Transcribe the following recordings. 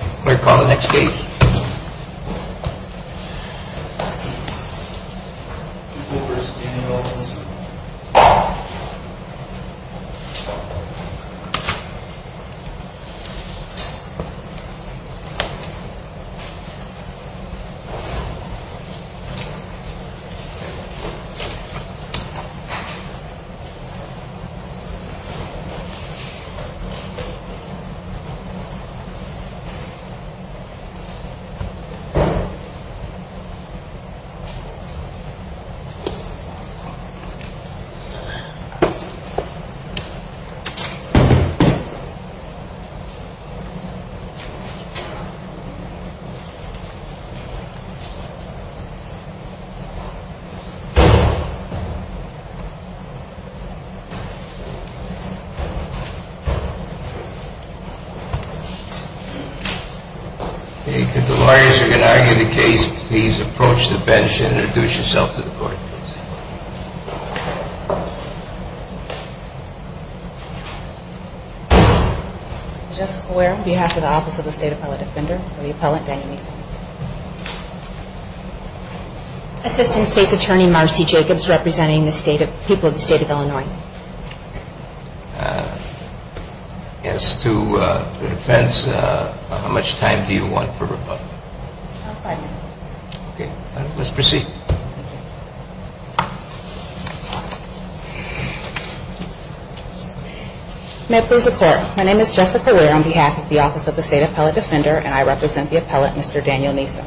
Clear for the next stage. If the lawyers are going to argue the case, please approach the bench and introduce yourself to the court. I'm Jessica Ware on behalf of the Office of the State Appellate Defender. I'm the appellant, Diane Neasom. Assistant State's Attorney, Marcy Jacobs, representing the people of the state of Illinois. As to the defense, how much time do you want for rebuttal? Five minutes. Okay. Let's proceed. May it please the Court. My name is Jessica Ware on behalf of the Office of the State Appellate Defender, and I represent the appellant, Mr. Daniel Neasom.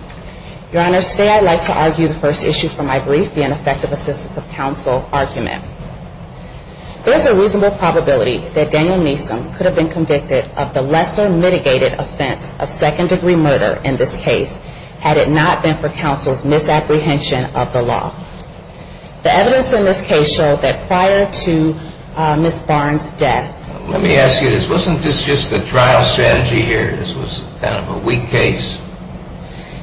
Your Honor, today I'd like to argue the first issue from my brief, the ineffective assistance of counsel argument. There's a reasonable probability that Daniel Neasom could have been convicted of the lesser mitigated offense of second-degree murder in this case had it not been for counsel's misapprehension of the law. The evidence in this case showed that prior to Ms. Barnes' death... Let me ask you this. Wasn't this just the trial strategy here? This was kind of a weak case.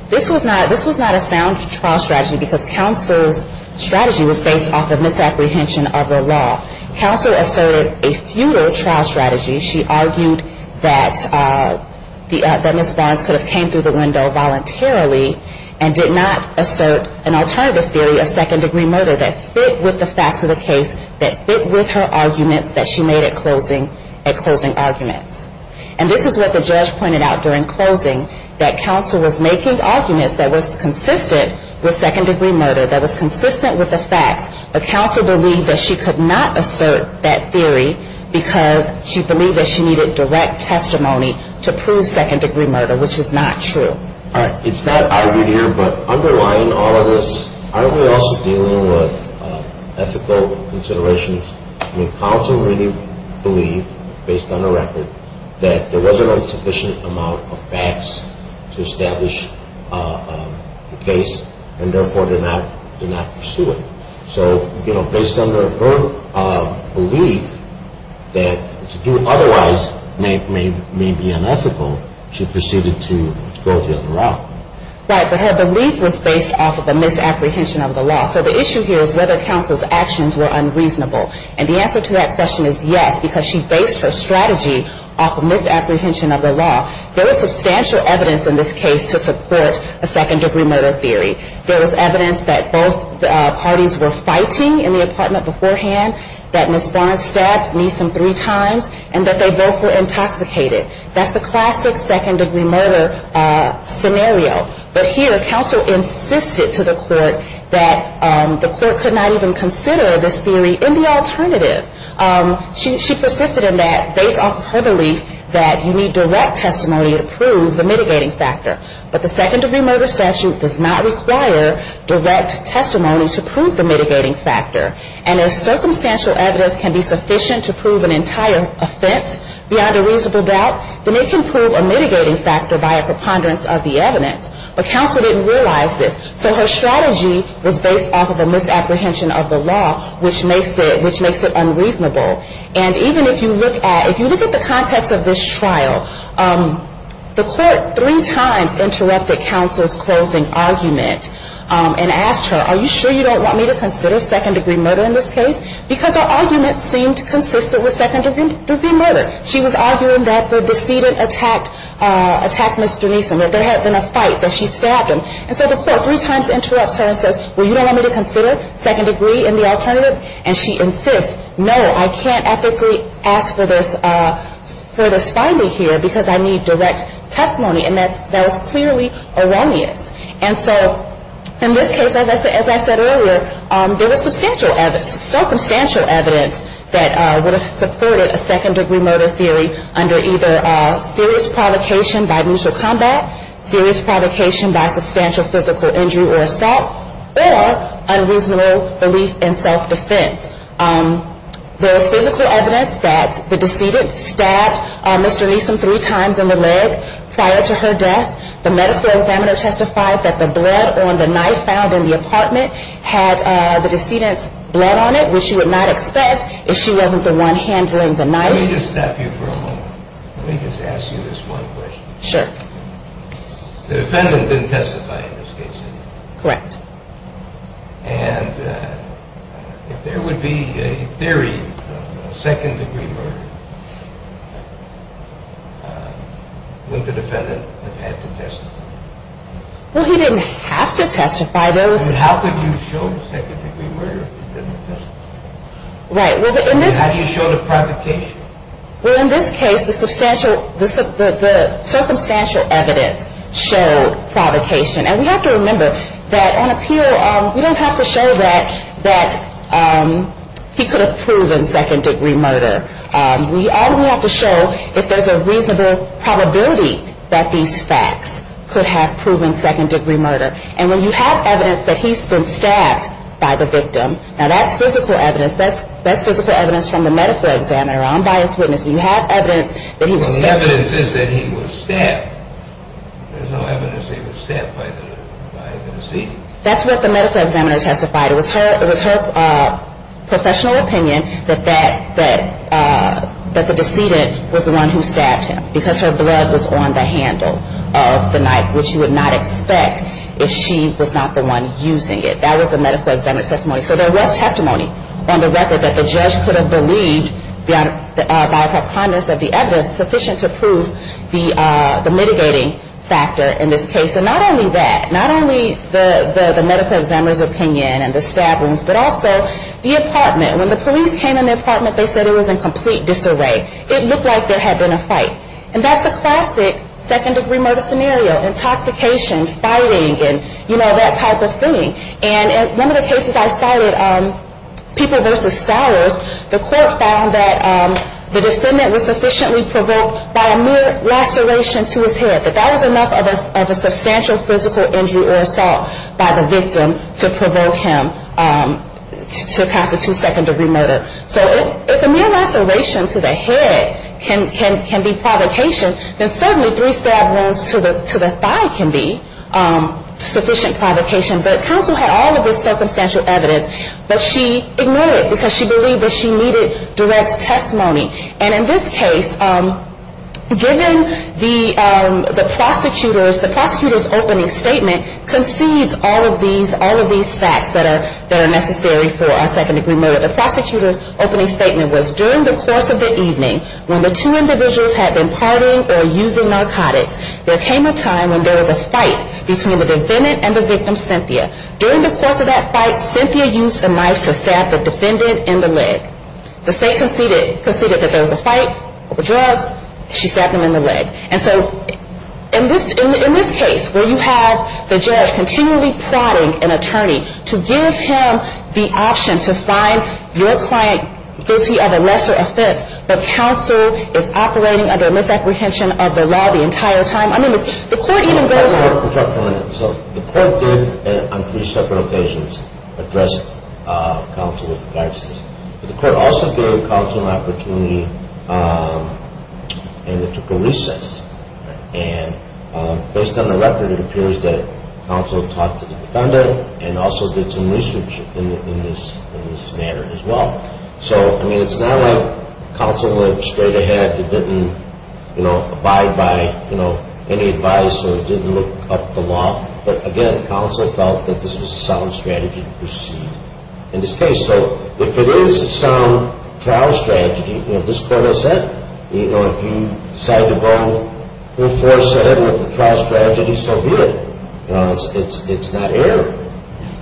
This was not a sound trial strategy because counsel's strategy was based off of misapprehension of the law. Counsel asserted a feudal trial strategy. She argued that Ms. Barnes could have came through the window voluntarily and did not assert an alternative theory of second-degree murder that fit with the facts of the case, that fit with her arguments that she made at closing arguments. And this is what the judge pointed out during closing, that counsel was making arguments that was consistent with second-degree murder, that was consistent with the facts, but counsel believed that she could not assert a feudal trial strategy. She could not assert that theory because she believed that she needed direct testimony to prove second-degree murder, which is not true. All right. It's not argued here, but underlying all of this, aren't we also dealing with ethical considerations? I mean, counsel really believed, based on the record, that there was an insufficient amount of facts to establish the case, and therefore did not pursue it. So, you know, based on her belief that to do otherwise may be unethical, she proceeded to go the other route. Right, but her belief was based off of the misapprehension of the law. So the issue here is whether counsel's actions were unreasonable. And the answer to that question is yes, because she based her strategy off of misapprehension of the law. There was substantial evidence in this case to support a second-degree murder theory. There was evidence that both parties were fighting in the apartment beforehand, that Ms. Barnes stabbed Neeson three times, and that they both were intoxicated. That's the classic second-degree murder scenario. But here, counsel insisted to the court that the court could not even consider this theory in the alternative. She persisted in that based off her belief that you need direct testimony to prove the mitigating factor. But the second-degree murder statute does not require direct testimony to prove the mitigating factor. And if circumstantial evidence can be sufficient to prove an entire offense beyond a reasonable doubt, then it can prove a mitigating factor by a preponderance of the evidence. But counsel didn't realize this. So her strategy was based off of a misapprehension of the law, which makes it unreasonable. And even if you look at the context of this trial, the court three times has said that it's unreasonable. The court three times interrupted counsel's closing argument and asked her, are you sure you don't want me to consider second-degree murder in this case? Because her argument seemed consistent with second-degree murder. She was arguing that the decedent attacked Mr. Neeson, that there had been a fight, that she stabbed him. And so the court three times interrupts her and says, well, you don't want me to consider second-degree in the alternative? And she insists, no, I can't ethically ask for this finding here, because I need direct testimony. And that was clearly erroneous. And so in this case, as I said earlier, there was circumstantial evidence that would have supported a second-degree murder theory under either serious provocation by mutual combat, serious provocation by substantial physical injury or assault, or unreasonable belief in self-defense. There was physical evidence that the decedent stabbed Mr. Neeson three times in the leg prior to her death. The medical examiner testified that the blood on the knife found in the apartment had the decedent's blood on it, which you would not expect if she wasn't the one handling the knife. Let me just stop you for a moment. Let me just ask you this one question. Sure. The defendant didn't testify in this case. Correct. And if there would be a theory of a second-degree murder, wouldn't the defendant have had to testify? Well, he didn't have to testify. How could you show second-degree murder if he didn't testify? Right. How do you show the provocation? Well, in this case, the circumstantial evidence showed provocation. And we have to remember that on appeal, we don't have to show that he could have proven second-degree murder. We only have to show if there's a reasonable probability that these facts could have proven second-degree murder. And when you have evidence that he's been stabbed by the victim, now, that's physical evidence. That's physical evidence from the medical examiner, unbiased witness. When you have evidence that he was stabbed. There's no evidence that he was stabbed by the deceased. That's what the medical examiner testified. It was her professional opinion that the deceased was the one who stabbed him because her blood was on the handle of the knife, which you would not expect if she was not the one using it. That was the medical examiner's testimony. So there was testimony on the record that the judge could have believed by a preponderance of the evidence sufficient to prove the mitigating factor in this case. And not only that, not only the medical examiner's opinion and the stab wounds, but also the apartment. When the police came in the apartment, they said it was in complete disarray. It looked like there had been a fight. And that's the classic second-degree murder scenario, intoxication, fighting, and, you know, that type of thing. And one of the cases I cited, People v. Stowers, the court found that the defendant was sufficiently provoked by a mere laceration to his head. That that was enough of a substantial physical injury or assault by the victim to provoke him to cast a two-second-degree murder. So if a mere laceration to the head can be provocation, then certainly three-stab wounds to the thigh can be sufficient provocation. But counsel had all of this circumstantial evidence, but she ignored it because she believed that she needed direct testimony. And in this case, given the prosecutor's opening statement concedes all of these facts that are necessary for a second-degree murder. The prosecutor's opening statement was, During the course of the evening, when the two individuals had been partying or using narcotics, there came a time when there was a fight between the defendant and the victim, Cynthia. During the course of that fight, Cynthia used a knife to stab the defendant in the leg. The state conceded that there was a fight over drugs. She stabbed him in the leg. And so in this case, where you have the judge continually prodding an attorney to give him the option to find your client guilty of a lesser offense, the counsel is operating under a misapprehension of the law the entire time. I mean, the court even goes so. So the court did, on three separate occasions, address counsel with the facts. But the court also gave counsel an opportunity and it took a recess. And based on the record, it appears that counsel talked to the defendant and also did some research in this matter as well. So, I mean, it's not like counsel went straight ahead and didn't, you know, abide by, you know, any advice or didn't look up the law. But again, counsel felt that this was a sound strategy to proceed in this case. So if it is a sound trial strategy, you know, this court has said, you know, if you decide to go full force ahead with the trial strategy, so be it. You know, it's not error.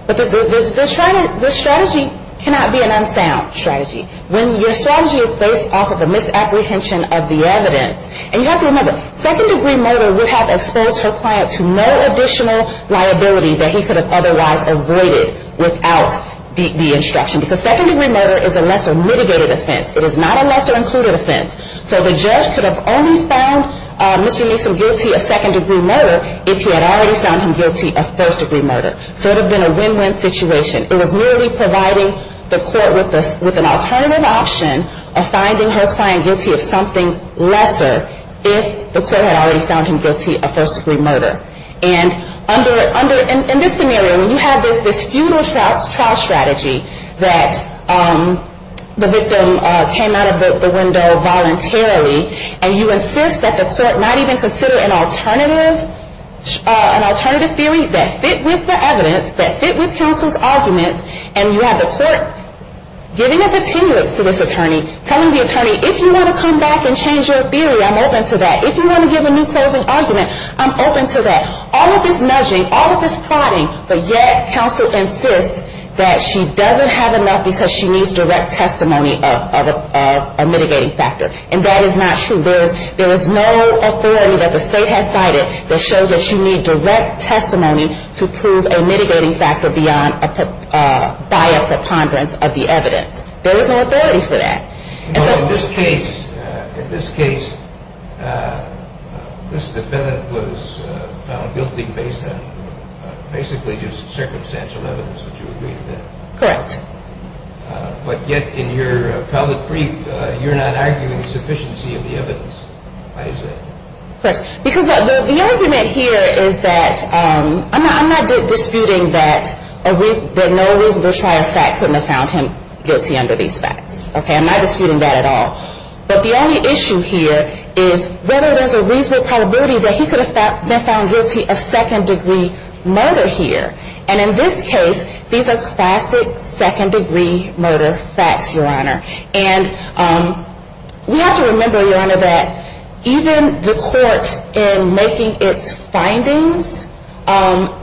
But the strategy cannot be an unsound strategy. When your strategy is based off of the misapprehension of the evidence, and you have to remember, second-degree murder would have exposed her client to no additional liability that he could have otherwise avoided without the instruction. Because second-degree murder is a lesser-mitigated offense. It is not a lesser-included offense. So the judge could have only found Mr. Neeson guilty of second-degree murder if he had already found him guilty of first-degree murder. So it would have been a win-win situation. It was merely providing the court with an alternative option of finding her client guilty of something lesser, if the court had already found him guilty of first-degree murder. And in this scenario, when you have this feudal trial strategy that the victim came out of the window voluntarily, and you insist that the court not even consider an alternative theory that fit with the evidence, that fit with counsel's arguments, and you have the court giving us a tenuous to this attorney, telling the attorney, if you want to come back and change your theory, I'm open to that. If you want to give a new person's argument, I'm open to that. All of this nudging, all of this prodding, but yet counsel insists that she doesn't have enough because she needs direct testimony of a mitigating factor. And that is not true. There is no authority that the state has cited that shows that she needs direct testimony to prove a mitigating factor by a preponderance of the evidence. There is no authority for that. In this case, this defendant was found guilty based on basically just circumstantial evidence, would you agree to that? Correct. But yet in your public brief, you're not arguing sufficiency of the evidence. Why is that? Because the argument here is that, I'm not disputing that no reasonable trial fact couldn't have found him guilty under these facts. Okay, I'm not disputing that at all. But the only issue here is whether there's a reasonable probability that he could have been found guilty of second degree murder here. And in this case, these are classic second degree murder facts, Your Honor. And we have to remember, Your Honor, that even the court in making its findings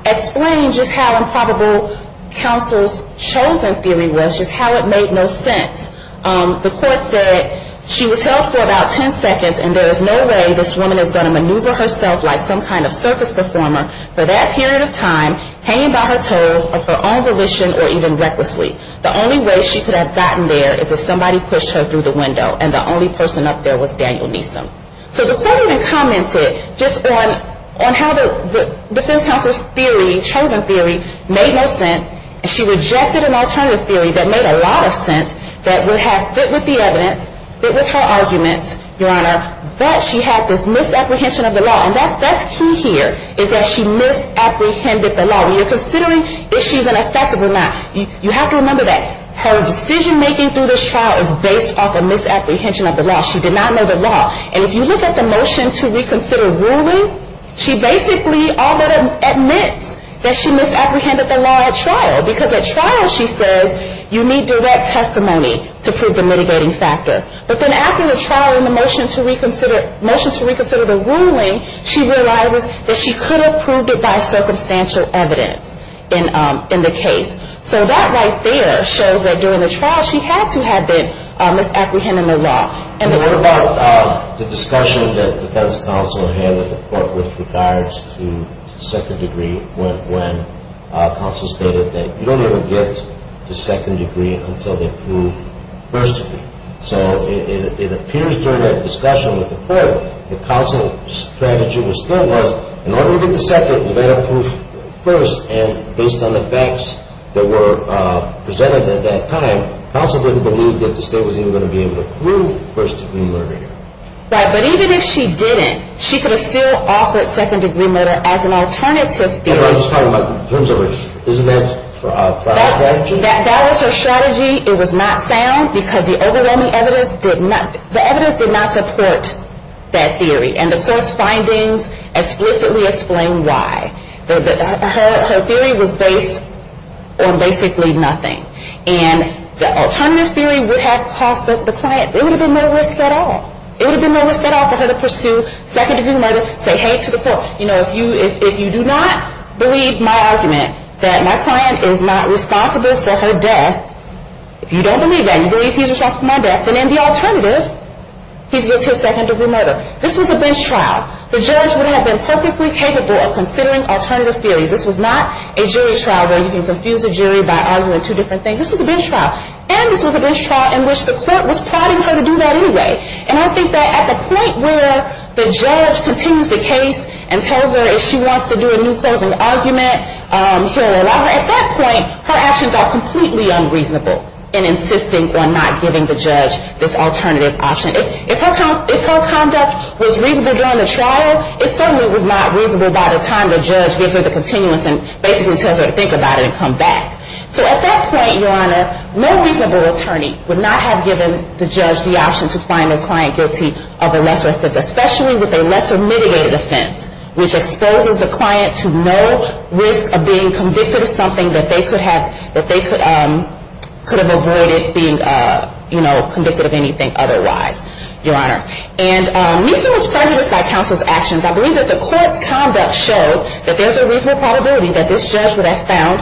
explained just how improbable counsel's chosen theory was, just how it made no sense. The court said she was held for about 10 seconds and there is no way this woman is going to maneuver herself like some kind of circus performer for that period of time, hanging by a thread. She was hanging by her toes of her own volition or even recklessly. The only way she could have gotten there is if somebody pushed her through the window and the only person up there was Daniel Neeson. So the court even commented just on how the defense counsel's theory, chosen theory, made no sense. And she rejected an alternative theory that made a lot of sense, that would have fit with the evidence, fit with her arguments, Your Honor. But she had this misapprehension of the law. And that's key here, is that she misapprehended the law. When you're considering if she's an effective or not, you have to remember that her decision-making through this trial is based off a misapprehension of the law. She did not know the law. And if you look at the motion to reconsider ruling, she basically admits that she misapprehended the law at trial. Because at trial, she says, you need direct testimony to prove the mitigating factor. But then after the trial and the motion to reconsider the ruling, she realizes that she could have proved it by circumstantial evidence in the case. So that right there shows that during the trial, she had to have been misapprehending the law. The discussion that the defense counsel had with the court with regards to second degree went when counsel stated that you don't even get to second degree until they prove first degree. So it appears during that discussion with the court, the counsel's strategy was still was, in order to get to second, you've got to prove first. And based on the facts that were presented at that time, counsel didn't believe that the state was even going to be able to prove first degree murder here. Right, but even if she didn't, she could have still offered second degree murder as an alternative theory. I'm just talking about in terms of her, isn't that trial strategy? If that was her strategy, it was not sound, because the overwhelming evidence did not, the evidence did not support that theory. And the court's findings explicitly explain why. Her theory was based on basically nothing. And the alternative theory would have cost the client, it would have been no risk at all. It would have been no risk at all for her to pursue second degree murder, say, hey, to the court, you know, if you do not believe my argument, that my client is not responsible for her death, if you don't believe that, you believe he's responsible for my death, then the alternative, he's guilty of second degree murder. This was a bench trial. The judge would have been perfectly capable of considering alternative theories. This was not a jury trial where you can confuse a jury by arguing two different things. This was a bench trial. And this was a bench trial in which the court was plotting her to do that anyway. And I think that at the point where the judge continues the case and tells her if she wants to do a new closing argument, at that point, her actions are completely unreasonable in insisting on not giving the judge this alternative option. If her conduct was reasonable during the trial, it certainly was not reasonable by the time the judge gives her the continuance and basically tells her to think about it and come back. So at that point, Your Honor, no reasonable attorney would not have given the judge the option to find a client guilty of a lesser offense, especially with a lesser mitigated offense, which exposes the client to no risk of being convicted of something that they could have avoided being, you know, convicted of anything otherwise, Your Honor. And Meese was prejudiced by counsel's actions. I believe that the court's conduct shows that there's a reasonable probability that this judge would have found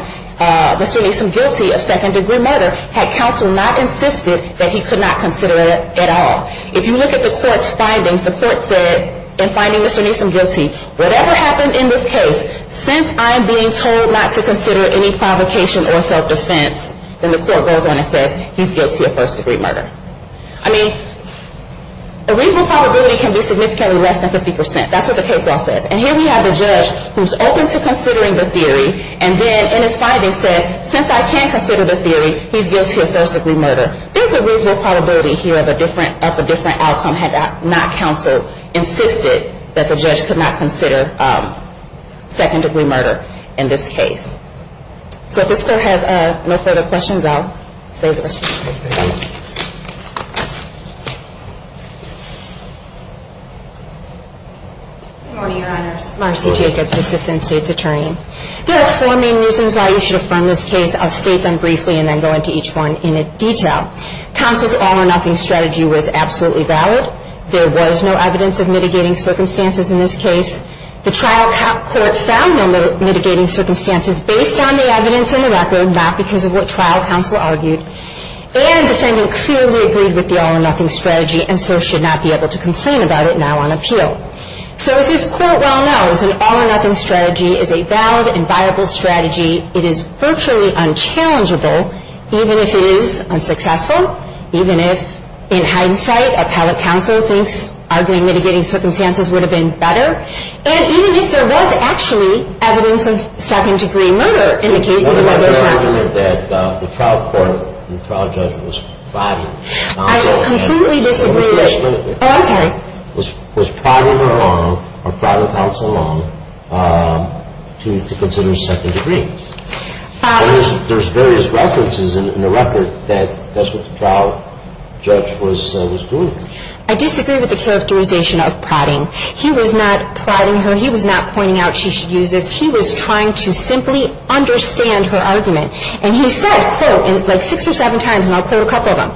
Mr. Neeson guilty of second-degree murder had counsel not insisted that he could not consider it at all. If you look at the court's findings, the court said in finding Mr. Neeson guilty, whatever happened in this case, since I'm being told not to consider any provocation or self-defense, then the court goes on and says he's guilty of first-degree murder. I mean, the reasonable probability can be significantly less than 50 percent. That's what the case law says. And here we have a judge who's open to considering the theory, and then in his findings says, since I can't consider the theory, he's guilty of first-degree murder. There's a reasonable probability here of a different outcome had not counsel insisted that the judge could not consider second-degree murder in this case. So if this court has no further questions, I'll say the rest. Good morning, Your Honors. Marcy Jacobs, Assistant State's Attorney. There are four main reasons why you should affirm this case. I'll state them briefly and then go into each one in detail. Counsel's all-or-nothing strategy was absolutely valid. There was no evidence of mitigating circumstances in this case. The trial court found no mitigating circumstances based on the evidence in the record, not because of what trial counsel argued. And the defendant clearly agreed with the all-or-nothing strategy and so should not be able to complain about it now on appeal. So as this court well knows, an all-or-nothing strategy is a valid and viable strategy. It is virtually unchallengeable, even if it is unsuccessful, even if in hindsight appellate counsel thinks arguing mitigating circumstances would have been better, and even if there was actually evidence of second-degree murder in the case of the legal strategy. Now, you're arguing that the trial court and the trial judge was bribing counsel. I completely disagree with that. Oh, I'm sorry. I disagree with the characterization of prodding. He was not prodding her. He was not pointing out she should use this. He was trying to simply understand her argument. And he said, quote, like six or seven times, and I'll quote a couple of them,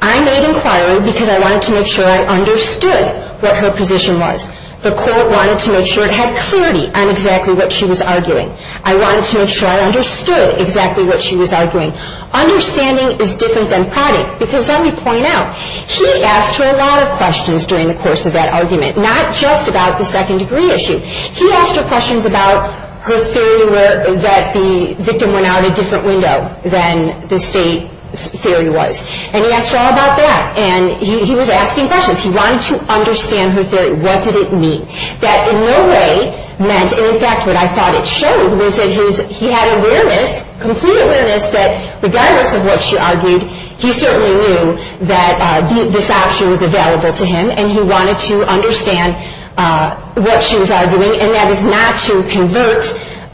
I made inquiry because I wanted to make sure I understood what her position was. The court wanted to make sure it had clarity on exactly what she was arguing. I wanted to make sure I understood exactly what she was arguing. Understanding is different than prodding, because let me point out, he asked her a lot of questions during the course of that argument, not just about the second-degree issue. He asked her questions about her theory that the victim went out a different window than the state's theory was. And he asked her all about that, and he was asking questions. He wanted to understand her theory. What did it mean? That in no way meant, and in fact what I thought it showed, was that he had awareness, complete awareness, that regardless of what she argued, he certainly knew that this option was available to him, and he wanted to understand what she was arguing, and that is not to convert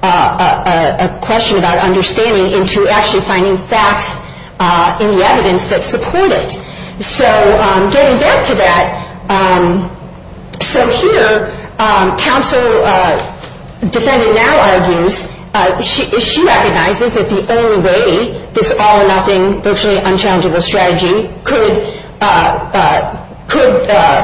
a question about understanding into actually finding facts in the evidence that support it. So getting back to that, so here counsel defendant now argues, she recognizes that the only way this all-or-nothing, virtually unchallengeable strategy could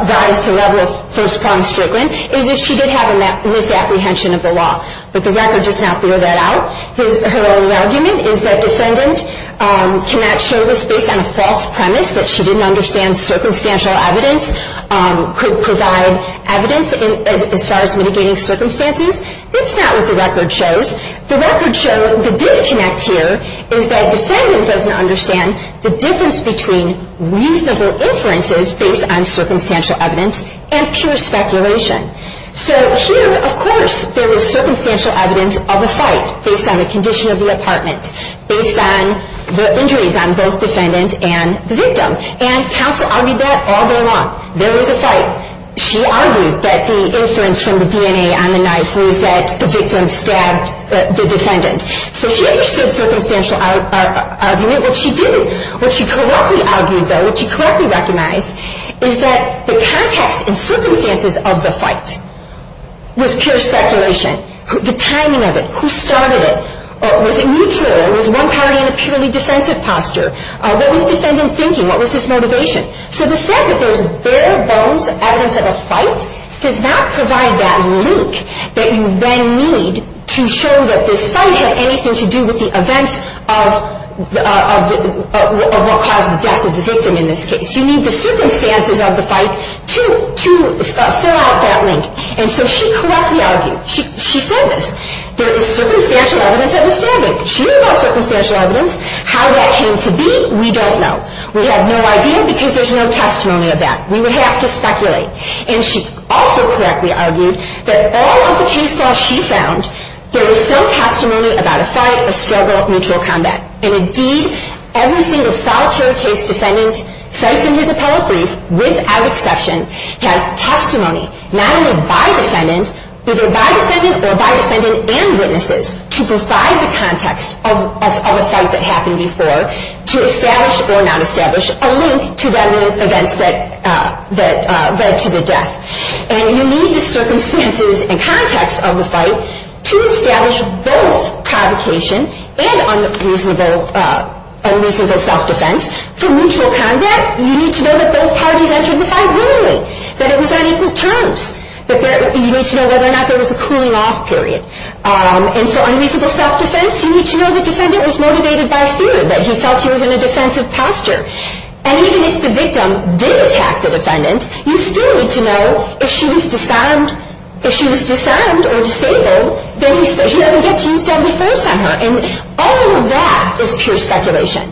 rise to the level of first-pronged strickling is if she did have a misapprehension of the law. But the record does not throw that out. Her only argument is that defendant cannot show this based on a false premise that she didn't understand circumstantial evidence could provide evidence as far as mitigating circumstances. That's not what the record shows. The record shows the disconnect here is that defendant doesn't understand the difference between reasonable inferences based on circumstantial evidence and pure speculation. Based on a condition of the apartment, based on the injuries on both defendant and the victim. And counsel argued that all day long. There was a fight. She argued that the inference from the DNA on the knife was that the victim stabbed the defendant. So she understood circumstantial argument. What she didn't, what she correctly argued though, what she correctly recognized, is that the context and circumstances of the fight was pure speculation. The timing of it. Who started it? Was it mutual? Or was one party in a purely defensive posture? What was defendant thinking? What was his motivation? So the fact that there's bare bones evidence of a fight does not provide that link that you then need to show that this fight had anything to do with the events of what caused the death of the victim in this case. You need the circumstances of the fight to fill out that link. And so she correctly argued. She said this. There is circumstantial evidence of a stabbing. She knew about circumstantial evidence. How that came to be, we don't know. We have no idea because there's no testimony of that. We would have to speculate. And she also correctly argued that all of the cases she found, there was some testimony about a fight, a struggle, mutual combat. And indeed, every single solitary case defendant cites in his appellate brief, without exception, has testimony, not only by defendant, either by defendant or by defendant and witnesses, to provide the context of a fight that happened before to establish or not establish a link to the events that led to the death. And you need the circumstances and context of the fight to establish both provocation and unreasonable self-defense for mutual combat. You need to know that both parties entered the fight willingly, that it was on equal terms, that you need to know whether or not there was a cooling off period. And for unreasonable self-defense, you need to know the defendant was motivated by fear, that he felt he was in a defensive posture. And even if the victim did attack the defendant, you still need to know if she was disarmed or disabled, then he doesn't get to use deadly force on her. And all of that is pure speculation.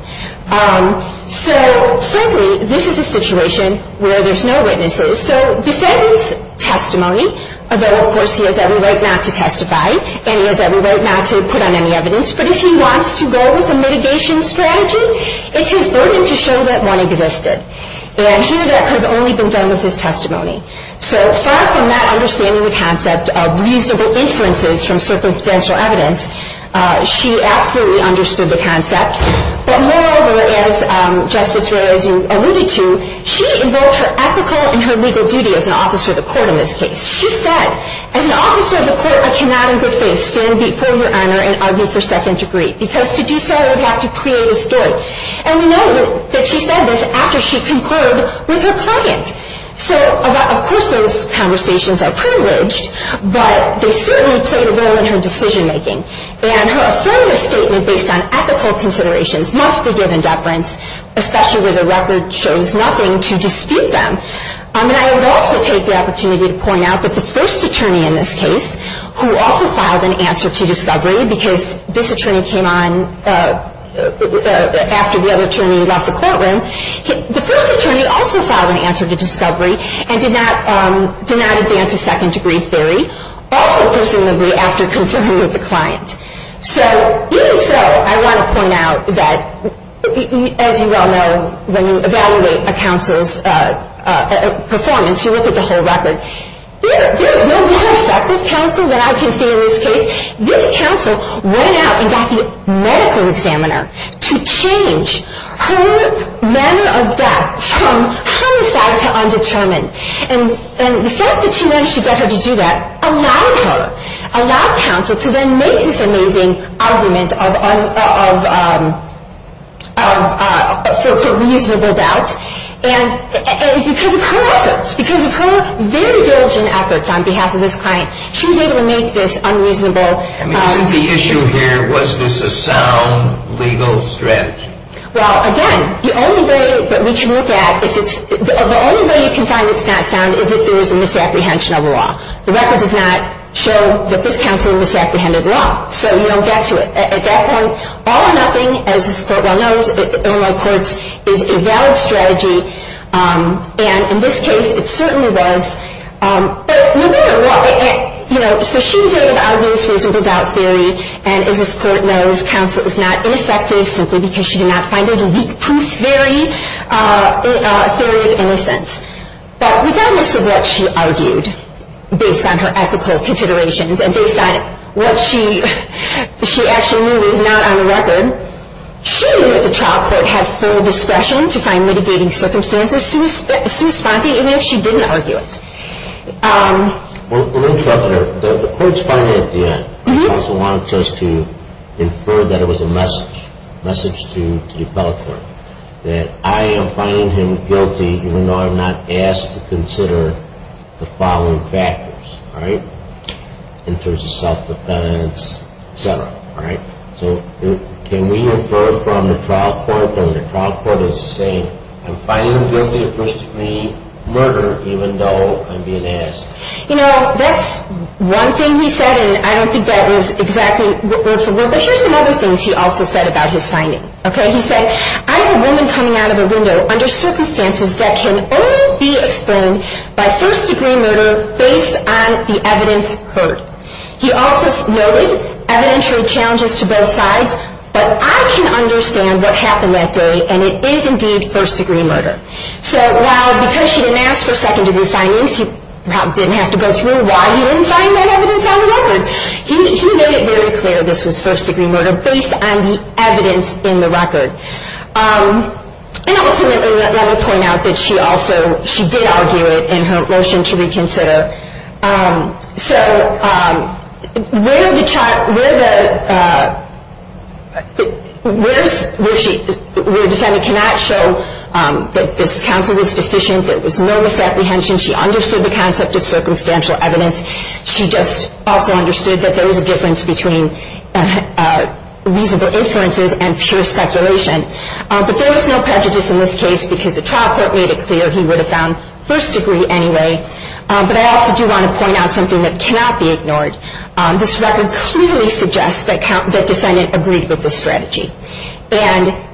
So frankly, this is a situation where there's no witnesses. So defendant's testimony, although of course he has every right not to testify, and he has every right not to put on any evidence, but if he wants to go with a mitigation strategy, it's his burden to show that one existed. And here that could have only been done with his testimony. So far from not understanding the concept of reasonable inferences from circumstantial evidence, she absolutely understood the concept. But moreover, as Justice Ray, as you alluded to, she invoked her ethical and her legal duty as an officer of the court in this case. She said, as an officer of the court, I cannot in good faith stand before Your Honor and argue for second degree, because to do so, I would have to create a story. And we know that she said this after she concurred with her client. So of course those conversations are privileged, but they certainly played a role in her decision-making. And her affirmative statement based on ethical considerations must be given deference, especially where the record shows nothing to dispute them. And I would also take the opportunity to point out that the first attorney in this case, who also filed an answer to discovery, because this attorney came on after the other attorney left the courtroom, the first attorney also filed an answer to discovery and did not advance a second degree theory, also presumably after conferring with the client. So even so, I want to point out that, as you well know, when you evaluate a counsel's performance, you look at the whole record. There is no more effective counsel than I can say in this case. This counsel went out and got the medical examiner to change her manner of death from homicide to undetermined. And the fact that she managed to get her to do that allowed her, allowed counsel, to then make this amazing argument for reasonable doubt. And because of her efforts, because of her very diligent efforts on behalf of this client, she was able to make this unreasonable... The issue here, was this a sound legal strategy? Well, again, the only way that we can look at... The only way you can find it's not sound is if there is a misapprehension of law. The record does not show that this counsel misapprehended law. So you don't get to it. At that point, all or nothing, as this court well knows, is a valid strategy. And in this case, it certainly was. So she was able to argue this reasonable doubt theory. And as this court knows, counsel is not ineffective simply because she did not find it a weak proof theory, a theory of innocence. But regardless of what she argued, based on her ethical considerations, and based on what she actually knew is not on the record, she knew that the trial court had full discretion to find litigating circumstances sui sponte, even if she didn't argue it. Let me interrupt here. The court's finding at the end, counsel wanted us to infer that it was a message, a message to the appellate court, that I am finding him guilty even though I'm not asked to consider the following factors. Alright? In terms of self-defense, etc. Alright? So can we infer from the trial court that when the trial court is saying I'm finding him guilty of first-degree murder even though I'm being asked. You know, that's one thing he said and I don't think that was exactly word-for-word. But here's some other things he also said about his finding. He said, I have a woman coming out of a window under circumstances that can only be explained by first-degree murder based on the evidence heard. He also noted evidentiary challenges to both sides but I can understand what happened that day and it is indeed first-degree murder. So while because she didn't ask for second-degree findings he probably didn't have to go through why he didn't find that evidence on the record he made it very clear this was first-degree murder based on the evidence in the record. And ultimately let me point out that she also she did argue it in her motion to reconsider. So where the where the where she where the defendant cannot show that this counsel was deficient that there was no misapprehension she understood the concept of circumstantial evidence she just also understood that there was a difference between reasonable influences and pure speculation but there was no prejudice in this case because the trial court made it clear he would have found first-degree anyway but I also do want to point out something that cannot be ignored this record clearly suggests that the defendant agreed with the strategy and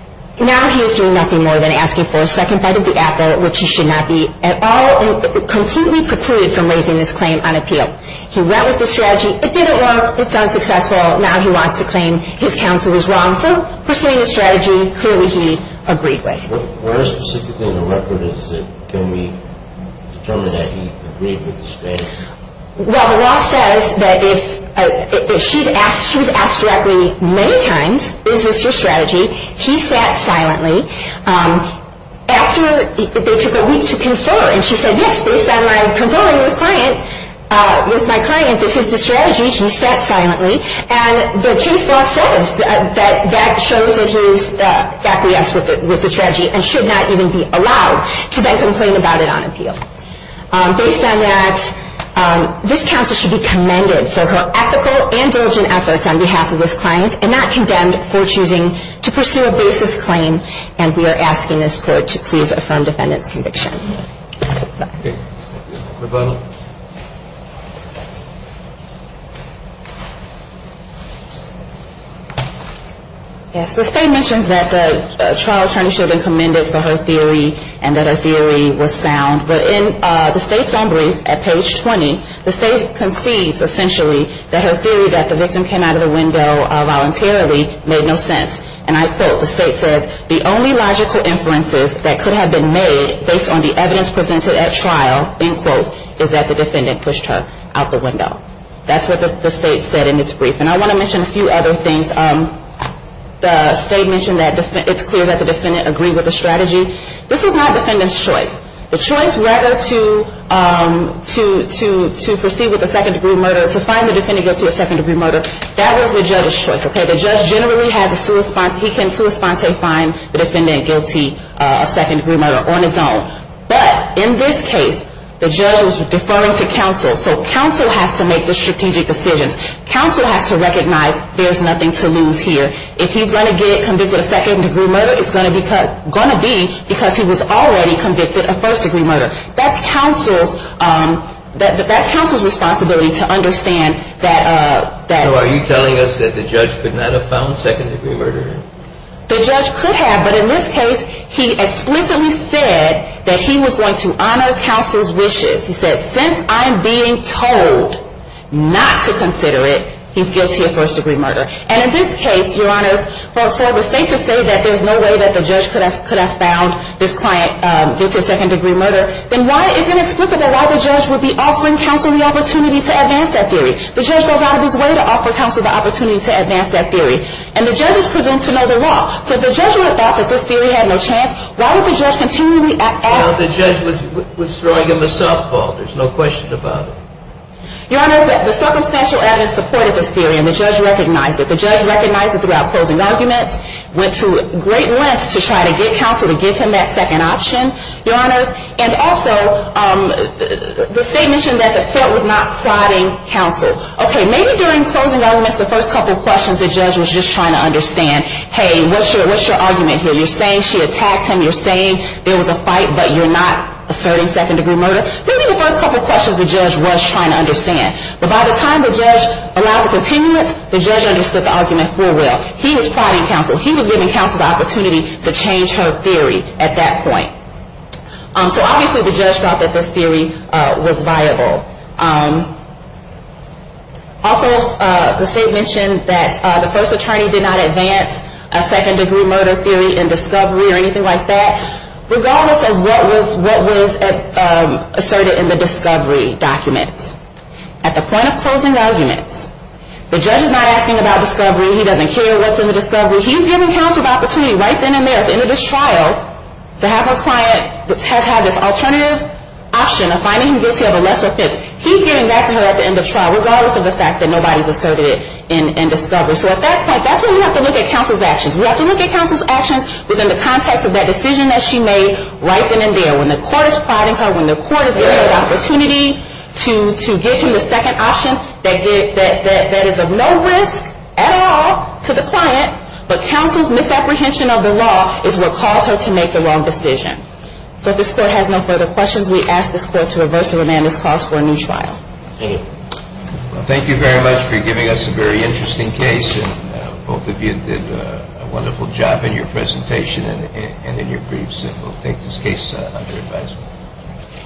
now he is doing nothing more than asking for a second bite of the apple which he should not be at all completely precluded from raising this claim on appeal he went with the strategy it didn't work it's unsuccessful now he wants to claim his counsel was wrong for pursuing the strategy clearly he agreed with where specifically in the record can we determine that he agreed with the strategy well the law says that if she's asked she was asked directly many times is this your strategy he sat silently after they took a week to confer and she said yes based on my conferring with my client this is the strategy he sat silently and the case law says that shows that he is back with the strategy and should not even be allowed to then complain about it on appeal based on that this counsel should be commended for her ethical and diligent efforts on behalf of this client and not condemned for choosing to pursue a basis claim and we are asking this court to please affirm defendant's conviction the state mentions that the trial attorney should have been commended for her theory and that her theory was sound but in the state's own brief at page 20 the state concedes essentially that her theory that the victim came out of the window voluntarily made no sense and I quote the state says the only logical inferences that could have been made based on the evidence presented at trial is that the defendant pushed her out the window that's what the state said and I want to mention a few other things the state mentioned that it's clear that the defendant agreed with the strategy this was not defendant's choice the choice rather to proceed with a second degree murder to find the defendant guilty of second degree murder that was the judge's choice the judge generally has a he can find the defendant guilty of second degree murder on his own but in this case the judge was deferring to counsel so counsel has to make the strategic decisions counsel has to recognize there's nothing to lose here if he's going to get convicted of second degree murder it's going to be because he was already convicted of first degree murder that's counsel's that's counsel's responsibility to understand that are you telling us that the judge could not have found second degree murder the judge could have but in this case he explicitly said that he was going to honor counsel's wishes he said since I'm being told not to consider it he's guilty of first degree murder and in this case your honors for the state to say that there's no way that the judge could have found this client guilty of second degree murder it's inexplicable why the judge would be offering counsel the opportunity to advance that theory the judge goes out of his way to offer counsel the opportunity to advance that theory and the judge is presumed to know the law so if the judge would have thought that this theory had no chance why would the judge continually ask the judge was throwing him a softball there's no question about it your honors the circumstantial evidence supported this theory and the judge recognized it the judge recognized it throughout closing arguments went to great lengths to try to get counsel to give him that second option your honors and also the state mentioned that the court was not prodding counsel ok maybe during closing arguments the first couple questions the judge was just trying to understand hey what's your argument here you're saying she attacked him you're saying there was a fight but you're not asserting second degree murder maybe the first couple questions the judge was trying to understand but by the time the judge allowed for continuance the judge understood the argument full well he was prodding counsel he was giving counsel the opportunity to change her theory at that point so obviously the judge thought that this theory was viable also the state mentioned that the first attorney did not advance a second degree murder theory in discovery or anything like that regardless of what was asserted in the discovery documents at the point of closing arguments the judge is not asking about discovery he doesn't care what's in the discovery he's giving counsel the opportunity right then and there at the end of this trial to have her client have this alternative option of finding him guilty of a lesser offense he's giving that to her at the end of trial regardless of the fact that nobody's asserted it in discovery so at that point that's when we have to look at counsel's actions we have to look at counsel's actions within the context of that decision that she made right then and there when the court is prodding her when the court is giving her the opportunity to give him the second option that is of no risk at all to the client but counsel's misapprehension of the law is what caused her to make the wrong decision so if this court has no further questions we ask this court to reverse the remandis clause for a new trial thank you very much for giving us a very interesting case and both of you did a wonderful job in your presentation and in your briefs we'll take this case under advisement